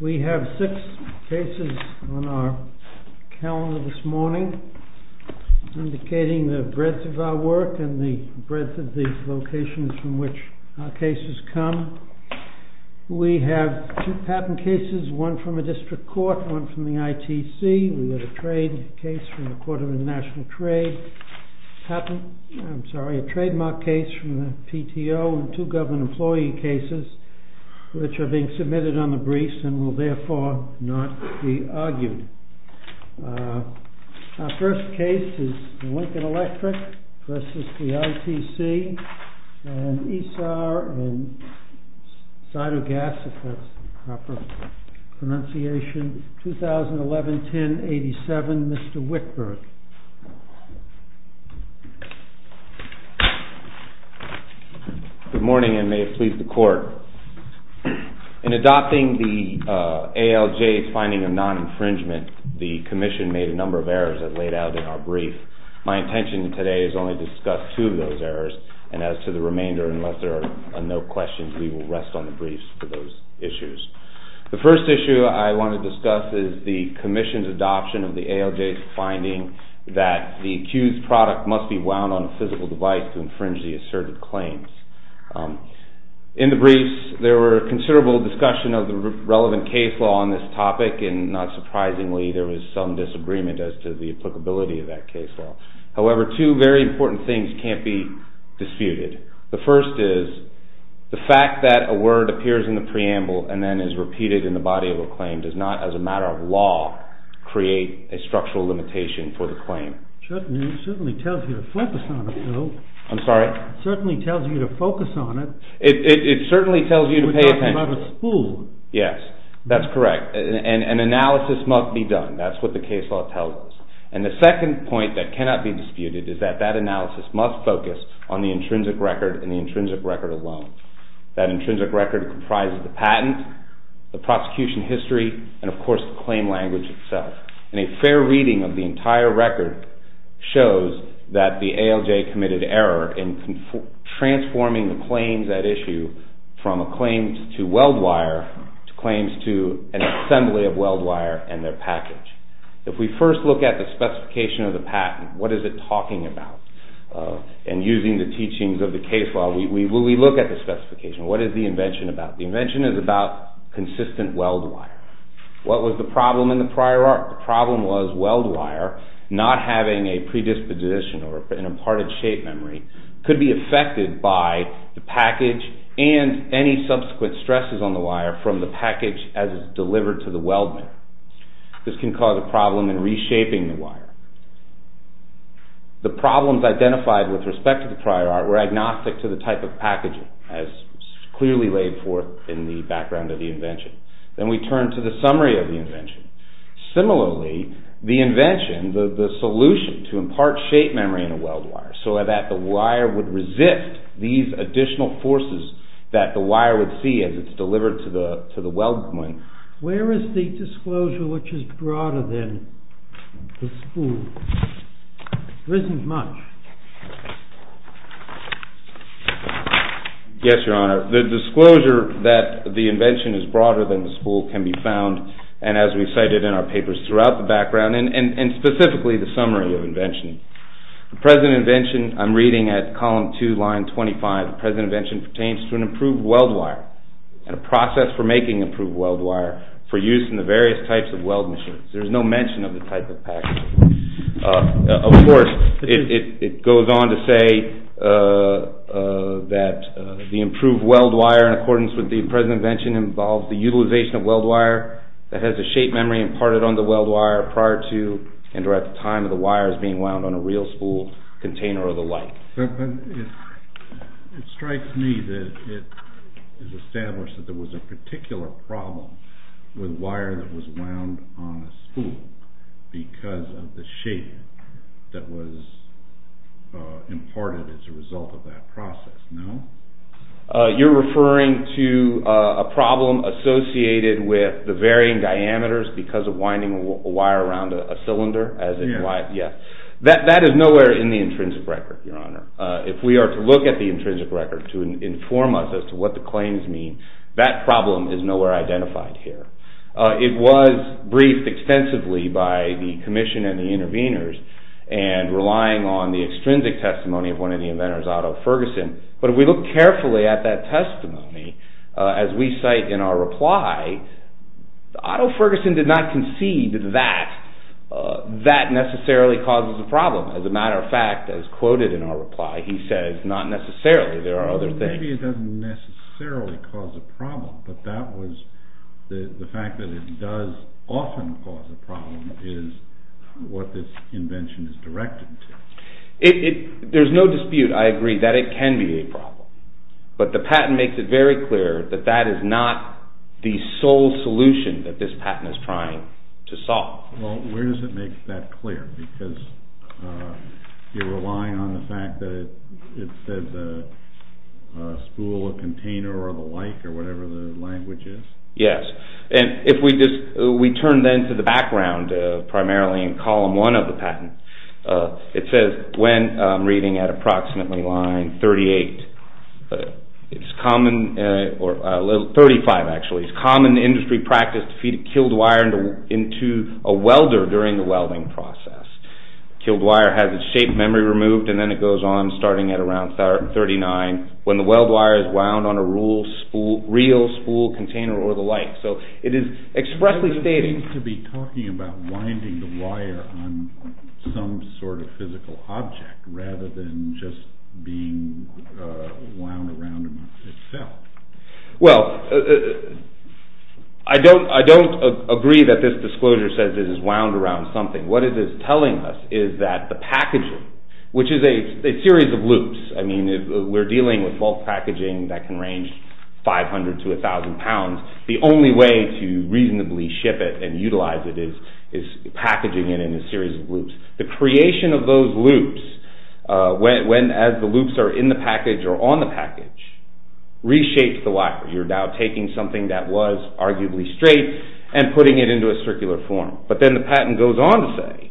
We have six cases on our calendar this morning, indicating the breadth of our work and the breadth of the locations from which our cases come. We have two patent cases, one from a case from the Court of International Trade, a trademark case from the PTO, and two government employee cases, which are being submitted on the briefs and will therefore not be argued. Our first case is the Lincoln Electric v. ITC and ISAR and Cytogas, if that's the proper term, and Mr. Whitberg. Good morning and may it please the Court. In adopting the ALJ's finding of non-infringement, the Commission made a number of errors as laid out in our brief. My intention today is only to discuss two of those errors, and as to the remainder, unless there are no questions, we will rest on the briefs for those issues. The first issue I want to discuss is the Commission's adoption of the ALJ's finding that the accused product must be wound on a physical device to infringe the asserted claims. In the briefs, there were considerable discussion of the relevant case law on this topic, and not surprisingly, there was some disagreement as to the applicability of that case law. However, two very important things can't be disputed. The first is the fact that a word appears in the preamble and then is repeated in the body of a claim does not, as a matter of law, create a structural limitation for the claim. It certainly tells you to focus on it, though. I'm sorry? It certainly tells you to focus on it. It certainly tells you to pay attention. We're talking about a spool. Yes, that's correct. An analysis must be done. That's what the case law tells us. And the second point that cannot be disputed is that that analysis must focus on the intrinsic record and the intrinsic record alone. That intrinsic record comprises the patent, the prosecution history, and, of course, the claim language itself. And a fair reading of the entire record shows that the ALJ committed error in transforming the claims at issue from a claim to Weldwire to claims to an assembly of Weldwire and their package. If we first look at the specification of the patent, what is it talking about? And using the teachings of the case law, we look at the specification. What is the invention about? The invention is about consistent Weldwire. What was the problem in the prior art? The problem was Weldwire not having a predisposition or an imparted shape memory could be affected by the package and any subsequent stresses on the wire from the package as it's delivered to the weldman. This can cause a problem in reshaping the wire. The problems identified with respect to the prior art were agnostic to the type of packaging as clearly laid forth in the background of the invention. Then we turn to the summary of the invention. Similarly, the invention, the solution to impart shape memory in a Weldwire so that the wire would resist these additional forces that the wire would see as it's delivered to the weldman. Where is the disclosure which is broader than the spool? There isn't much. Yes, Your Honor. The disclosure that the invention is broader than the spool can be found, and as we cited in our papers throughout the background, and specifically the summary of the invention. The present invention, I'm reading at column 2, line 25, the present invention pertains to an improved Weldwire and a process for making improved Weldwire for use in the various types of welding machines. There's no mention of the type of packaging. Of course, it goes on to say that the improved Weldwire in accordance with the present invention involves the utilization of Weldwire that has a shape memory imparted on the Weldwire prior to and or at the time of the wires being wound on a real spool container or the like. It strikes me that it is established that there was a particular problem with wire that was wound on a spool because of the shape that was imparted as a result of that process. No? You're referring to a problem associated with the varying diameters because of winding a wire around a cylinder? Yes. That is nowhere in the intrinsic record, Your Honor. If we are to look at the intrinsic record to inform us as to what the claims mean, that problem is nowhere identified here. It was briefed extensively by the commission and the interveners and relying on the extrinsic testimony of one of the inventors, Otto Ferguson, but if we look carefully at that testimony as we cite in our reply, Otto Ferguson did not concede that that necessarily causes a problem. As a matter of fact, as quoted in our reply, he says not necessarily. There are other things. Maybe it doesn't necessarily cause a problem, but that was the fact that it does often cause a problem is what this invention is directed to. There's no dispute, I agree, that it can be a problem, but the patent makes it very clear that that is not the sole solution that this patent is trying to solve. Well, where does it make that clear? Because you're relying on the fact that it says a spool, a container, or the like, or whatever the language is? Yes. And if we just turn then to the background, primarily in column one of the patent, it says when reading at approximately line 38, it's common, or 35 actually, it's common industry practice to feed a killed wire into a welder during the welding process. Killed wire has its shape memory removed and then it goes on starting at around 39 when the weld wire is wound on a reel, spool, container, or the like. So it is expressly stating- winding the wire on some sort of physical object rather than just being wound around itself. Well, I don't agree that this disclosure says it is wound around something. What it is telling us is that the packaging, which is a series of loops, I mean, we're dealing with bulk packaging that can range 500 to 1,000 pounds. The only way to reasonably ship it and utilize it is packaging it in a series of loops. The creation of those loops, as the loops are in the package or on the package, reshapes the wire. You're now taking something that was arguably straight and putting it into a circular form. But then the patent goes on to say,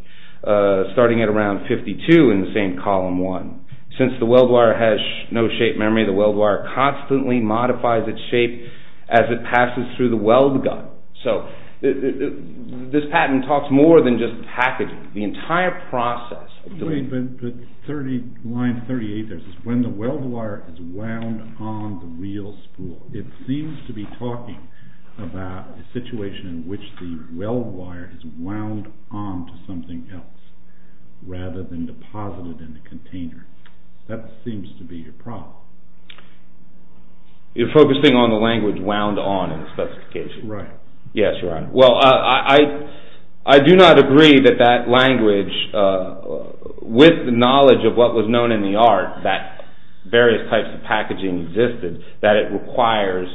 starting at around 52 in the same column one, since the weld wire has no shape memory, the weld wire constantly modifies its shape as it passes through the weld gun. So this patent talks more than just packaging. The entire process of doing- Wait, but line 38 says, when the weld wire is wound on the reel spool. It seems to be talking about a situation in which the weld wire is wound on to something else rather than deposited in the container. That seems to be your problem. You're focusing on the language, wound on, in the specification. Right. Yes, Your Honor. Well, I do not agree that that language, with the knowledge of what was known in the art, that various types of packaging existed, that it requires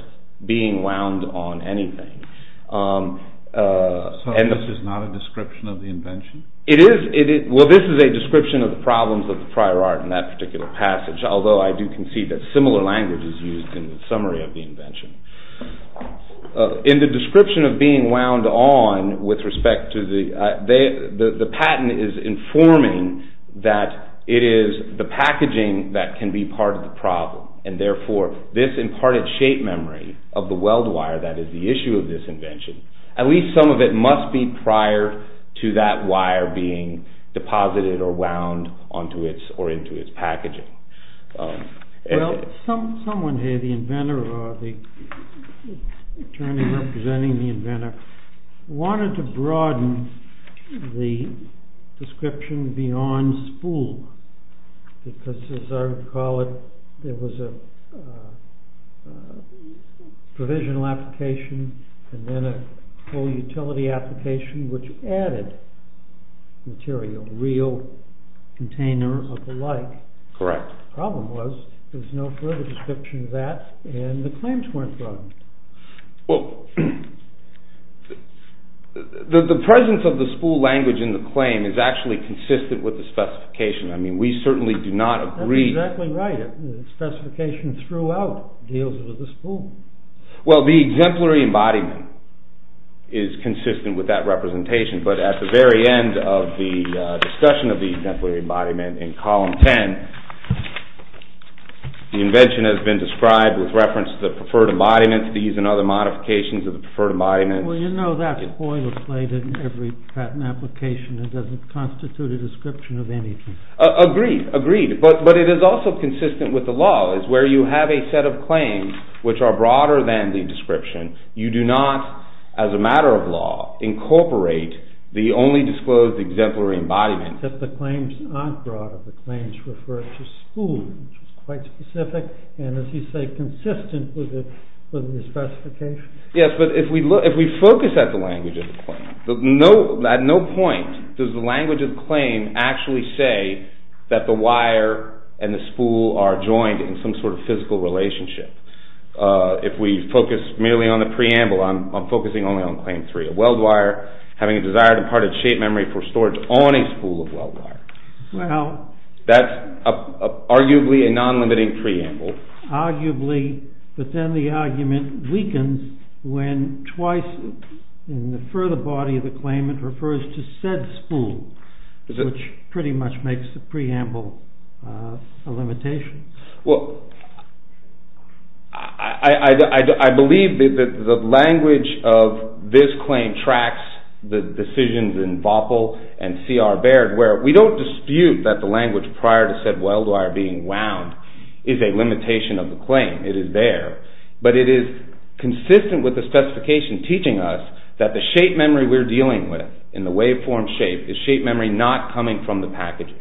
being wound on anything. So this is not a description of the invention? It is. Well, this is a description of the problems of the prior art in that particular passage, although I do concede that similar language is used in the summary of the invention. In the description of being wound on, with respect to the- The patent is informing that it is the packaging that can be part of the problem, and therefore this imparted shape memory of the weld wire that is the issue of this invention, at least some of it must be prior to that wire being deposited or wound onto or into its packaging. Well, someone here, the inventor or the attorney representing the inventor, wanted to broaden the description beyond spool, because, as I recall it, there was a provisional application and then a full utility application which added material, real, container of the like. Correct. The problem was, there is no further description of that, and the claims weren't broadened. Well, the presence of the spool language in the claim is actually consistent with the specification. I mean, we certainly do not agree- That's exactly right. The specification throughout deals with the spool. Well, the exemplary embodiment is consistent with that representation, but at the very end of the discussion of the exemplary embodiment in column 10, the invention has been described with reference to the preferred embodiment, these and other modifications of the preferred embodiment. Well, you know that's boiler-plated in every patent application. It doesn't constitute a description of anything. Agreed, agreed, but it is also consistent with the law, where you have a set of claims which are broader than the description. You do not, as a matter of law, incorporate the only disclosed exemplary embodiment. Except the claims aren't broad. The claims refer to spool, which is quite specific, and as you say, consistent with the specification. Yes, but if we focus at the language of the claim, at no point does the language of the claim actually say that the wire and the spool are joined in some sort of physical relationship. If we focus merely on the preamble, I'm focusing only on claim 3. A weld wire having a desired and parted shape memory for storage on a spool of weld wire. That's arguably a non-limiting preamble. Arguably, but then the argument weakens when twice in the further body of the claim it refers to said spool, which pretty much makes the preamble a limitation. Well, I believe that the language of this claim tracks the decisions in VOPL and C.R. Baird, where we don't dispute that the language prior to said weld wire being wound is a limitation of the claim. It is there, but it is consistent with the specification teaching us that the shape memory we're dealing with, in the waveform shape, is shape memory not coming from the packaging.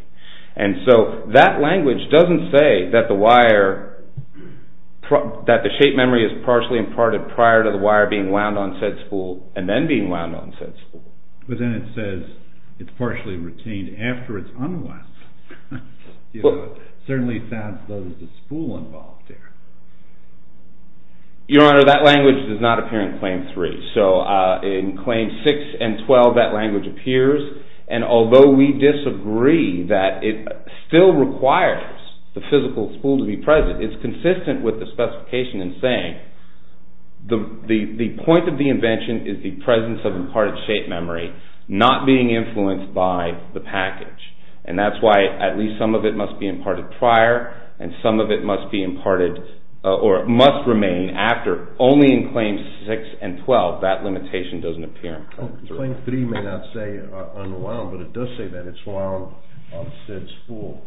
And so that language doesn't say that the shape memory is partially imparted prior to the wire being wound on said spool, and then being wound on said spool. But then it says it's partially retained after it's unwound. It certainly sounds as though there's a spool involved there. Your Honor, that language does not appear in claim 3. So in claims 6 and 12, that language appears. And although we disagree that it still requires the physical spool to be present, it's consistent with the specification in saying the point of the invention is the presence of imparted shape memory, not being influenced by the package. And that's why at least some of it must be imparted prior, and some of it must be imparted or must remain after. Only in claims 6 and 12, that limitation doesn't appear. Claim 3 may not say unwound, but it does say that it's wound on said spool.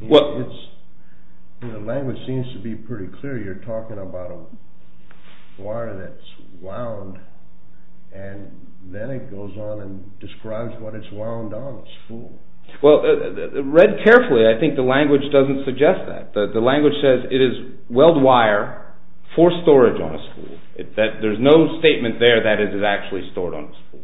The language seems to be pretty clear. You're talking about a wire that's wound, and then it goes on and describes what it's wound on, it's spool. Well, read carefully. I think the language doesn't suggest that. The language says it is weld wire for storage on a spool. There's no statement there that it is actually stored on a spool,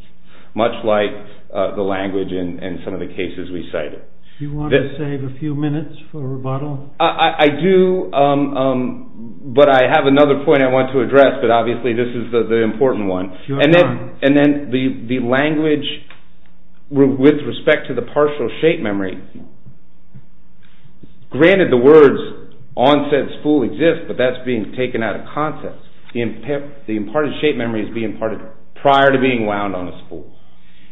much like the language in some of the cases we cited. Do you want to save a few minutes for rebuttal? I do, but I have another point I want to address, but obviously this is the important one. And then the language with respect to the partial shape memory, granted the words on said spool exist, but that's being taken out of context. The imparted shape memory is being imparted prior to being wound on a spool.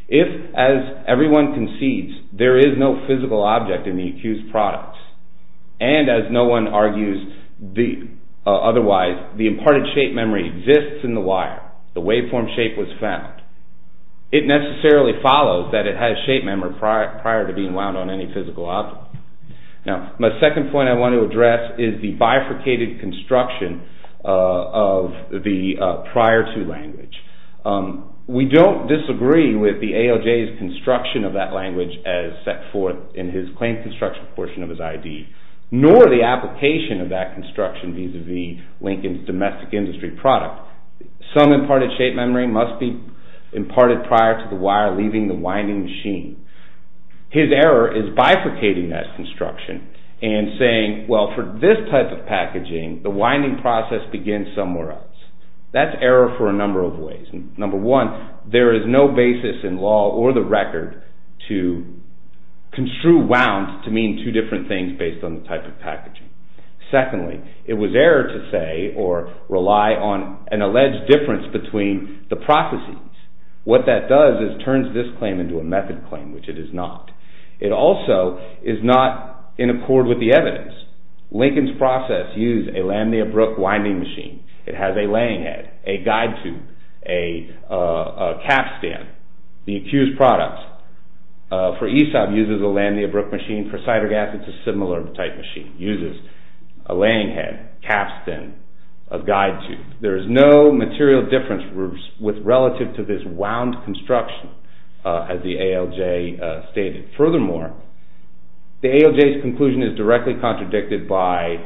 If, as everyone concedes, there is no physical object in the accused product, and as no one argues otherwise, the imparted shape memory exists in the wire. The waveform shape was found. It necessarily follows that it has shape memory prior to being wound on any physical object. Now, my second point I want to address is the bifurcated construction of the prior-to language. We don't disagree with the ALJ's construction of that language as set forth in his claim construction portion of his ID, nor the application of that construction vis-à-vis Lincoln's domestic industry product. Some imparted shape memory must be imparted prior to the wire leaving the winding machine. His error is bifurcating that construction and saying, well, for this type of packaging, the winding process begins somewhere else. That's error for a number of ways. Number one, there is no basis in law or the record to construe wounds Secondly, it was error to say or rely on an alleged difference between the processes. What that does is turns this claim into a method claim, which it is not. It also is not in accord with the evidence. Lincoln's process used a lamniabrook winding machine. It has a laying head, a guide tube, a cap stand. The accused product for Aesop uses a lamniabrook machine. For cider gas, it's a similar type machine. It uses a laying head, cap stand, a guide tube. There is no material difference relative to this wound construction as the ALJ stated. Furthermore, the ALJ's conclusion is directly contradicted by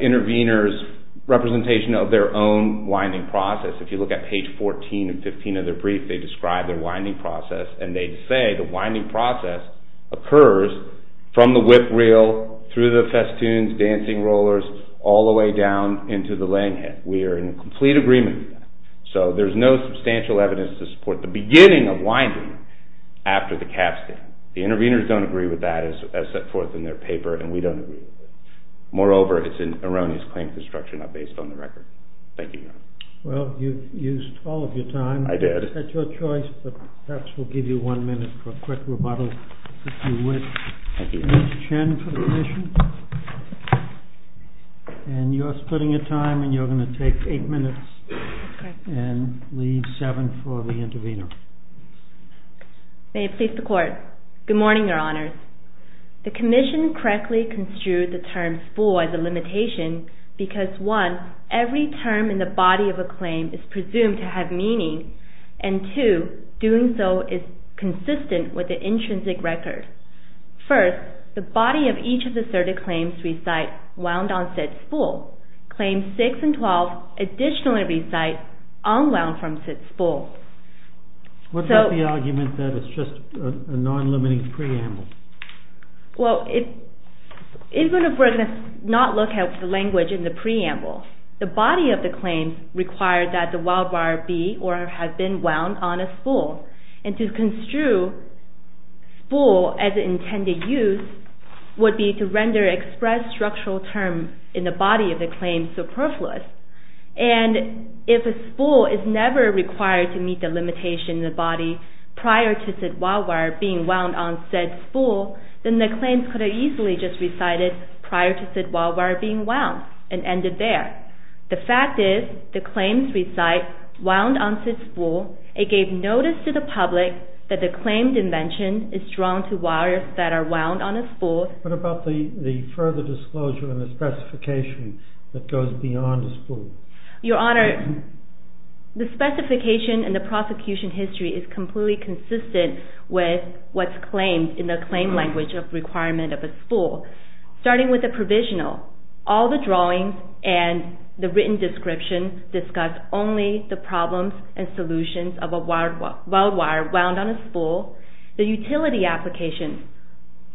intervenors' representation of their own winding process. If you look at page 14 and 15 of their brief, they describe their winding process and they say the winding process occurs from the whip reel, through the festoons, dancing rollers, all the way down into the laying head. We are in complete agreement with that. So there is no substantial evidence to support the beginning of winding after the cap stand. The intervenors don't agree with that as set forth in their paper and we don't agree with it. Moreover, it's an erroneous claim to the structure not based on the record. Thank you, Your Honor. Well, you've used all of your time. I did. That's your choice, but perhaps we'll give you one minute for a quick rebuttal, if you wish. Ms. Chen for the commission. And you're splitting your time and you're going to take eight minutes. Okay. And leave seven for the intervenor. May it please the Court. Good morning, Your Honors. The commission correctly construed the term for the limitation because one, every term in the body of a claim is presumed to have meaning and two, doing so is consistent with the intrinsic record. First, the body of each of the asserted claims we cite wound on said spool. Claims 6 and 12 additionally recite unwound from said spool. What about the argument that it's just a non-limiting preamble? Well, even if we're going to not look at the language in the preamble, the body of the claim required that the wildwire be or have been wound on a spool. And to construe spool as intended use would be to render express structural terms in the body of the claim superfluous. And if a spool is never required to meet the limitation in the body prior to said wildwire being wound on said spool, then the claims could have easily just recited prior to said wildwire being wound and ended there. The fact is the claims recite wound on said spool. It gave notice to the public that the claim dimension is drawn to wires that are wound on a spool. What about the further disclosure and the specification that goes beyond a spool? Your Honor, the specification and the prosecution history is completely consistent with what's claimed in the claim language of requirement of a spool. Starting with the provisional, all the drawings and the written description discuss only the problems and solutions of a wildwire wound on a spool. The utility application,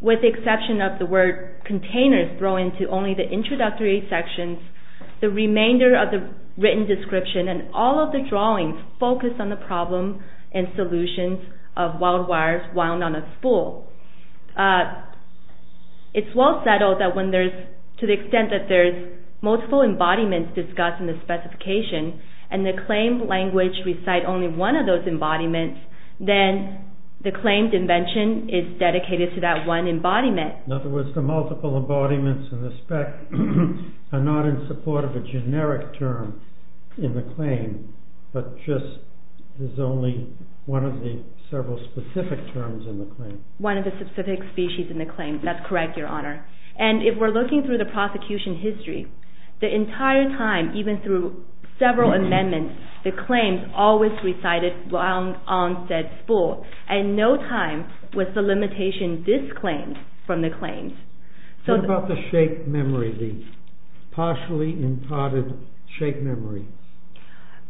with the exception of the word containers, throw into only the introductory sections. The remainder of the written description and all of the drawings focus on the problem and solutions of wildwires wound on a spool. It's well settled that when there's, to the extent that there's multiple embodiments discussed in the specification and the claim language recite only one of those embodiments, then the claim dimension is dedicated to that one embodiment. In other words, the multiple embodiments and the spec are not in support of a generic term in the claim, but just is only one of the several specific terms in the claim. One of the specific species in the claim. That's correct, Your Honor. And if we're looking through the prosecution history, the entire time, even through several amendments, the claims always recited wound on said spool, and no time was the limitation disclaimed from the claims. What about the shape memory, the partially imparted shape memory?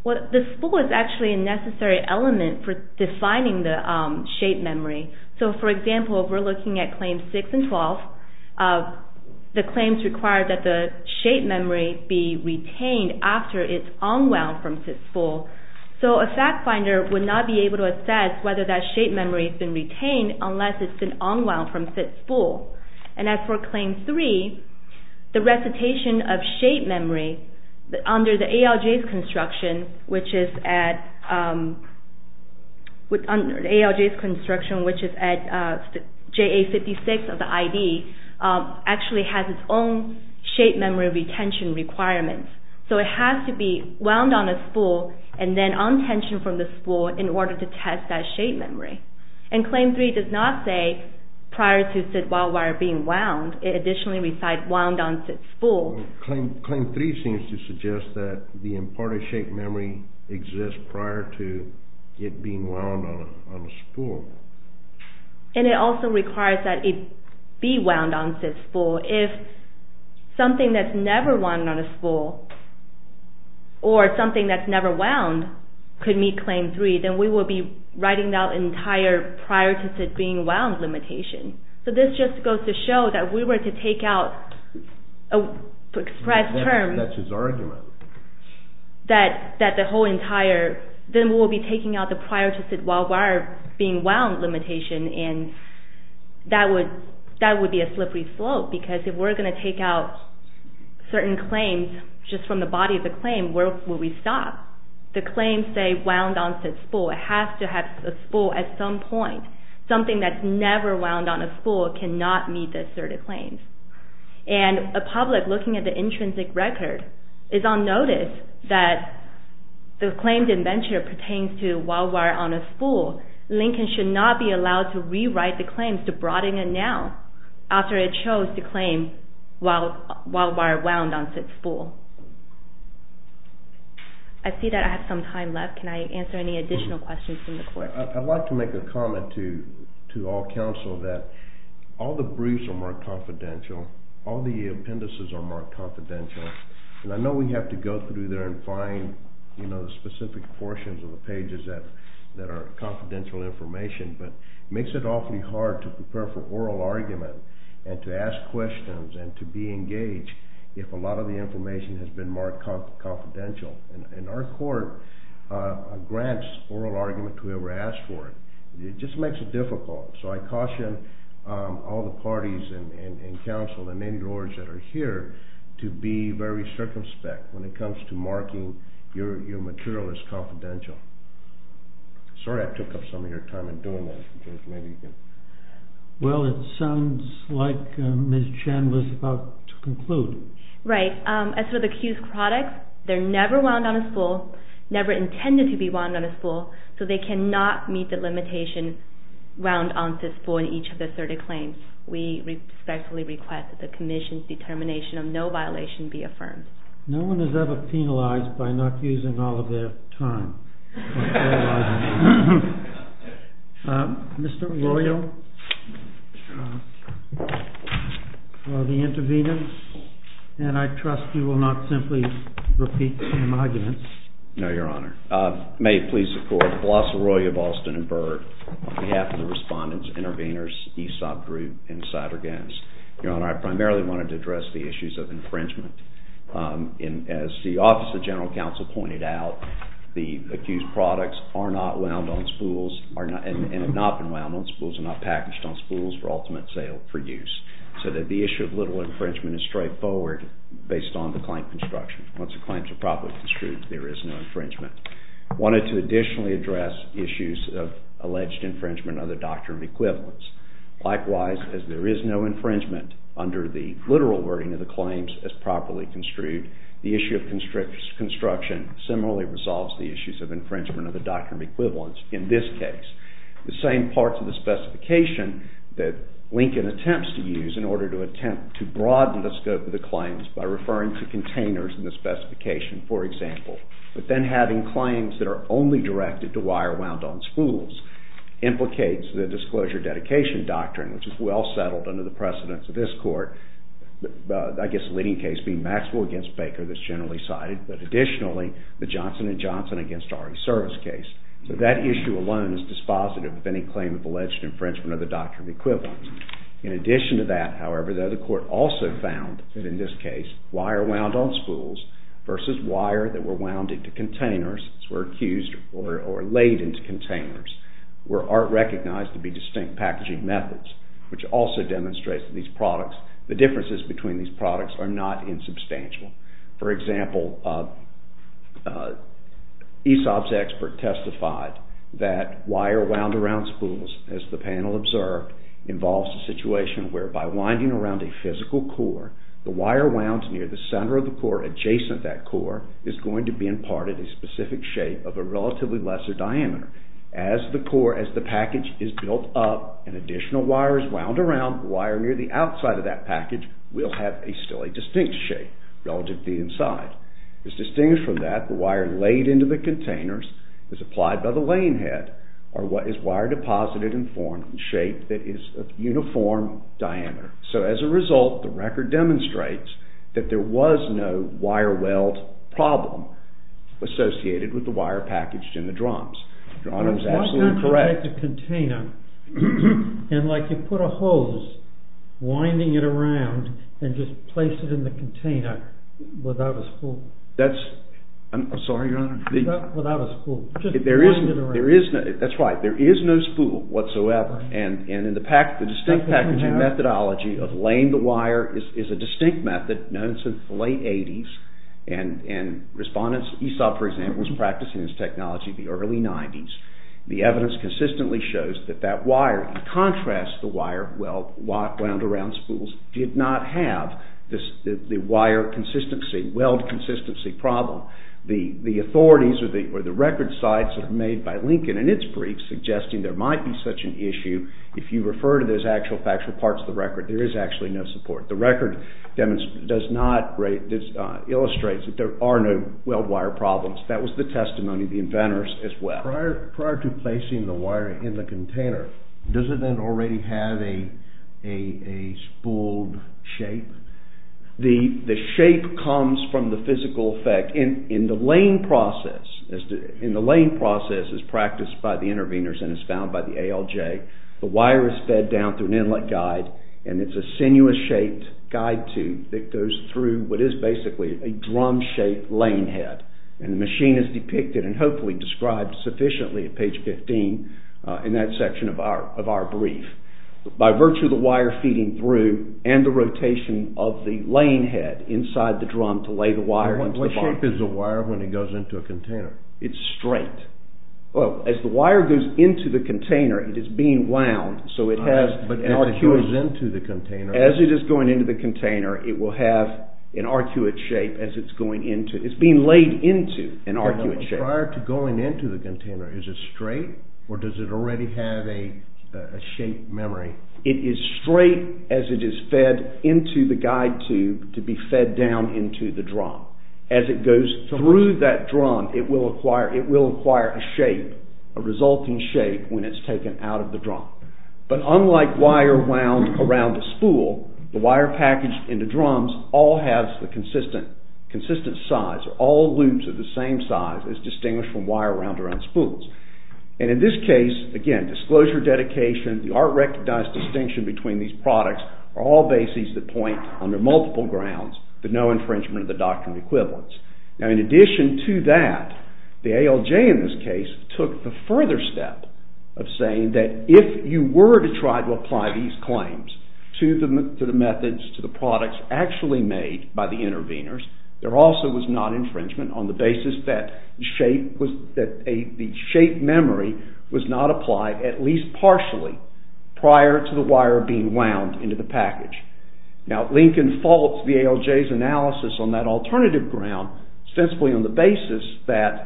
Well, the spool is actually a necessary element for defining the shape memory. So, for example, if we're looking at Claims 6 and 12, the claims require that the shape memory be retained after it's unwound from said spool. So a fact finder would not be able to assess whether that shape memory has been retained unless it's been unwound from said spool. And as for Claim 3, the recitation of shape memory under the ALJ's construction, which is at JA56 of the ID, actually has its own shape memory retention requirements. So it has to be wound on a spool and then un-tensioned from the spool in order to test that shape memory. And Claim 3 does not say prior to said wild wire being wound. It additionally recites wound on said spool. Claim 3 seems to suggest that the imparted shape memory exists prior to it being wound on a spool. And it also requires that it be wound on said spool. If something that's never wound on a spool or something that's never wound could meet Claim 3, then we would be writing down the entire prior to said being wound limitation. So this just goes to show that if we were to take out an express term, that the whole entire, then we would be taking out the prior to said wild wire being wound limitation, and that would be a slippery slope. Because if we're going to take out certain claims just from the body of the claim, where would we stop? The claims say wound on said spool. It has to have a spool at some point. Something that's never wound on a spool cannot meet the asserted claims. And the public, looking at the intrinsic record, is on notice that the claimed indenture pertains to wild wire on a spool. Lincoln should not be allowed to rewrite the claims to broaden it now, after it chose to claim wild wire wound on said spool. I see that I have some time left. Can I answer any additional questions from the court? I'd like to make a comment to all counsel that all the briefs are marked confidential. All the appendices are marked confidential. And I know we have to go through there and find the specific portions of the pages that are confidential information, but it makes it awfully hard to prepare for oral argument and to ask questions and to be engaged if a lot of the information has been marked confidential. And our court grants oral argument to whoever asked for it. It just makes it difficult. So I caution all the parties and counsel and any lawyers that are here to be very circumspect when it comes to marking your material as confidential. Sorry I took up some of your time in doing that. Well it sounds like Ms. Chen was about to conclude. Right. As for the accused products, they're never wound on a spool, never intended to be wound on a spool, so they cannot meet the limitation wound on said spool in each of the asserted claims. We respectfully request that the commission's determination of no violation be affirmed. No one is ever penalized by not using all of their time. Mr. Arroyo, for the intervenants. And I trust you will not simply repeat some arguments. No, Your Honor. May it please the court. Velasco Arroyo of Austin and Burr on behalf of the respondents, intervenors, ESOP group, and Cider Gans. Your Honor, I primarily wanted to address the issues of infringement. As the Office of General Counsel pointed out, the accused products are not wound on spools and have not been wound on spools and not packaged on spools for ultimate sale for use. So that the issue of literal infringement is straightforward based on the claim construction. Once the claims are properly construed, there is no infringement. I wanted to additionally address issues of alleged infringement and other doctrinal equivalents. Likewise, as there is no infringement under the literal wording of the claims as properly construed, the issue of construction similarly resolves the issues of infringement of the doctrinal equivalents in this case. The same parts of the specification that Lincoln attempts to use in order to attempt to broaden the scope of the claims by referring to containers in the specification, for example, but then having claims that are only directed to wire wound on spools implicates the Disclosure Dedication Doctrine, which is well settled under the precedence of this court, I guess the leading case being Maxwell v. Baker that's generally cited, but additionally the Johnson & Johnson v. RE Service case. So that issue alone is dispositive of any claim of alleged infringement of the doctrinal equivalents. In addition to that, however, the court also found that in this case, wire wound on spools versus wire that were wound into containers, were accused or laid into containers, were recognized to be distinct packaging methods, which also demonstrates that the differences between these products are not insubstantial. For example, Aesop's expert testified that wire wound around spools, as the panel observed, involves a situation whereby winding around a physical core, the wire wound near the center of the core, adjacent to that core, is going to be in part of a specific shape of a relatively lesser diameter. As the package is built up and additional wire is wound around, the wire near the outside of that package will have still a distinct shape relative to the inside. As distinguished from that, the wire laid into the containers, as applied by the laying head, is wire deposited and formed in a shape that is of uniform diameter. So, as a result, the record demonstrates that there was no wire weld problem associated with the wire packaged in the drums. Your Honor is absolutely correct. Why can't you make a container and like you put a hose, winding it around and just place it in the container without a spool? I'm sorry, Your Honor? Without a spool. Just wind it around. That's right. There is no spool whatsoever. And the distinct packaging methodology of laying the wire is a distinct method known since the late 80s and respondents, Esau, for example, was practicing this technology in the early 90s. The evidence consistently shows that that wire, in contrast to the wire wound around spools, did not have the wire consistency, weld consistency problem. The authorities or the record sites made by Lincoln in its briefs are suggesting there might be such an issue. If you refer to those actual factual parts of the record, there is actually no support. The record illustrates that there are no weld wire problems. That was the testimony of the inventors as well. Prior to placing the wire in the container, does it then already have a spooled shape? The shape comes from the physical effect. In the laying process as practiced by the interveners and as found by the ALJ, the wire is fed down through an inlet guide and it's a sinuous-shaped guide tube that goes through what is basically a drum-shaped laying head. And the machine is depicted and hopefully described sufficiently at page 15 in that section of our brief. By virtue of the wire feeding through and the rotation of the laying head inside the drum What shape is the wire when it goes into a container? It's straight. As the wire goes into the container, it is being wound, so it has an arcuate shape. As it is going into the container, it will have an arcuate shape. It's being laid into an arcuate shape. Prior to going into the container, is it straight or does it already have a shape memory? It is straight as it is fed into the guide tube to be fed down into the drum. As it goes through that drum, it will acquire a shape, a resulting shape when it's taken out of the drum. But unlike wire wound around a spool, the wire packaged into drums all has the consistent size. All loops are the same size as distinguished from wire wound around spools. In this case, again, disclosure, dedication, the art recognized distinction between these products are all bases that point under multiple grounds to no infringement of the doctrine of equivalence. In addition to that, the ALJ in this case took the further step of saying that if you were to try to apply these claims to the methods, to the products actually made by the interveners, there also was not infringement on the basis that the shape memory was not applied at least partially prior to the wire being wound into the package. Now, Lincoln faults the ALJ's analysis on that alternative ground ostensibly on the basis that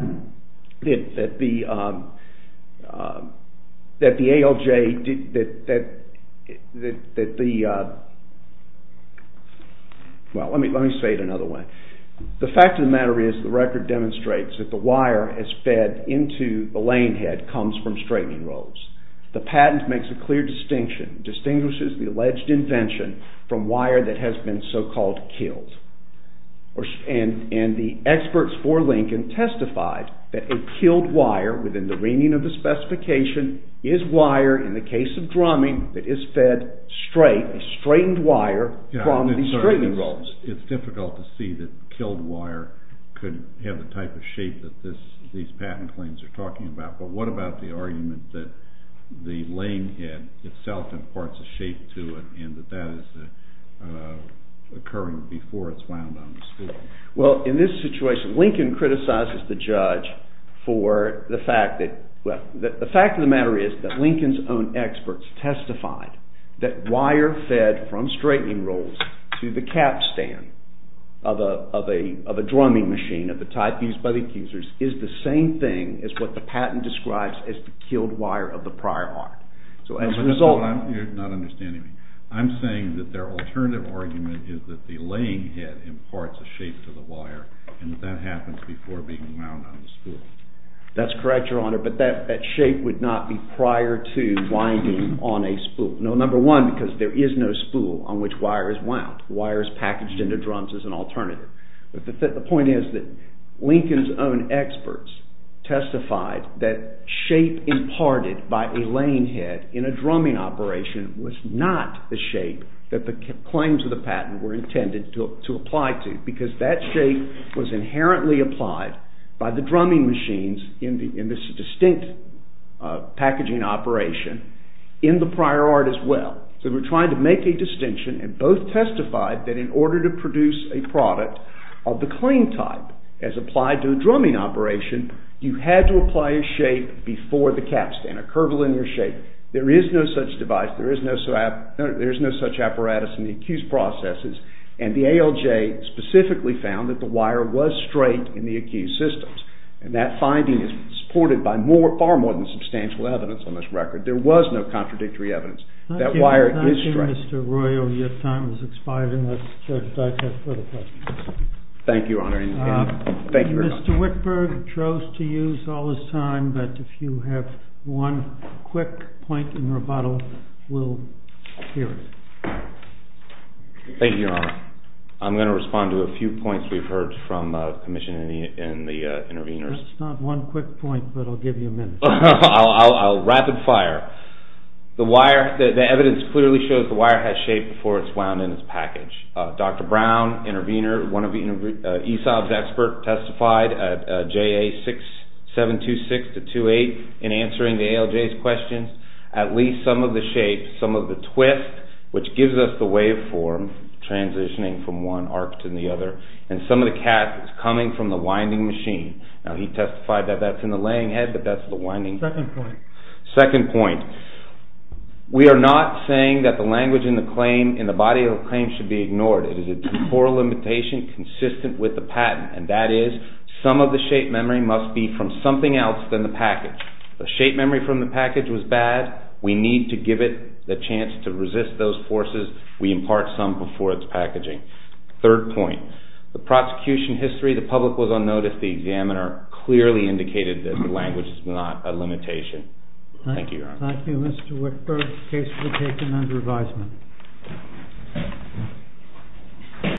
the ALJ, well, let me say it another way. The fact of the matter is the record demonstrates that the wire is fed into the lane head comes from straightening rolls. The patent makes a clear distinction, distinguishes the alleged invention from wire that has been so-called killed. And the experts for Lincoln testified that a killed wire within the reaming of the specification is wire in the case of drumming that is fed straight, a straightened wire from the straightening rolls. It's difficult to see that killed wire could have the type of shape that these patent claims are talking about, but what about the argument that the lane head itself has certain parts of shape to it and that that is occurring before it's wound on the spool? Well, in this situation, Lincoln criticizes the judge for the fact that, well, the fact of the matter is that Lincoln's own experts testified that wire fed from straightening rolls to the cap stand of a drumming machine of the type used by the accusers is the same thing as what the patent describes as the killed wire of the prior art. So as a result... You're not understanding me. I'm saying that their alternative argument is that the lane head imparts a shape to the wire and that that happens before being wound on the spool. That's correct, Your Honor, but that shape would not be prior to winding on a spool. Number one, because there is no spool on which wire is wound. Wire is packaged into drums as an alternative. But the point is that Lincoln's own experts testified that shape imparted by a lane head in a drumming operation was not the shape that the claims of the patent were intended to apply to because that shape was inherently applied by the drumming machines in this distinct packaging operation in the prior art as well. So we're trying to make a distinction and both testified that in order to produce a product of the claim type as applied to a drumming operation, you had to apply a shape before the capstan, a curvilinear shape. There is no such device. There is no such apparatus in the accused processes. And the ALJ specifically found that the wire was straight in the accused systems. And that finding is supported by far more than substantial evidence on this record. There was no contradictory evidence. That wire is straight. Thank you, Mr. Royal. Your time has expired and let's check back for further questions. Thank you, Your Honor. Mr. Whitberg chose to use all his time, but if you have one quick point in rebuttal, we'll hear it. Thank you, Your Honor. I'm going to respond to a few points we've heard from commissioners and the intervenors. That's not one quick point, but I'll give you a minute. I'll rapid fire. The evidence clearly shows the wire has shape before it's wound in its package. Dr. Brown, intervenor, ESOB's expert, testified at JA-6726-28 in answering the ALJ's questions. At least some of the shape, some of the twist, which gives us the waveform transitioning from one arc to the other, and some of the cath is coming from the winding machine. Now, he testified that that's in the laying head, but that's the winding. Second point. Second point. We are not saying that the language in the body of the claim should be ignored. It is a temporal limitation consistent with the patent, and that is some of the shape memory must be from something else than the package. If the shape memory from the package was bad, we need to give it the chance to resist those forces. We impart some before its packaging. Third point. The prosecution history, the public was unnoticed. The examiner clearly indicated that the language is not a limitation. Thank you, Your Honor. Thank you, Mr. Whitberg. The case will be taken under advisement.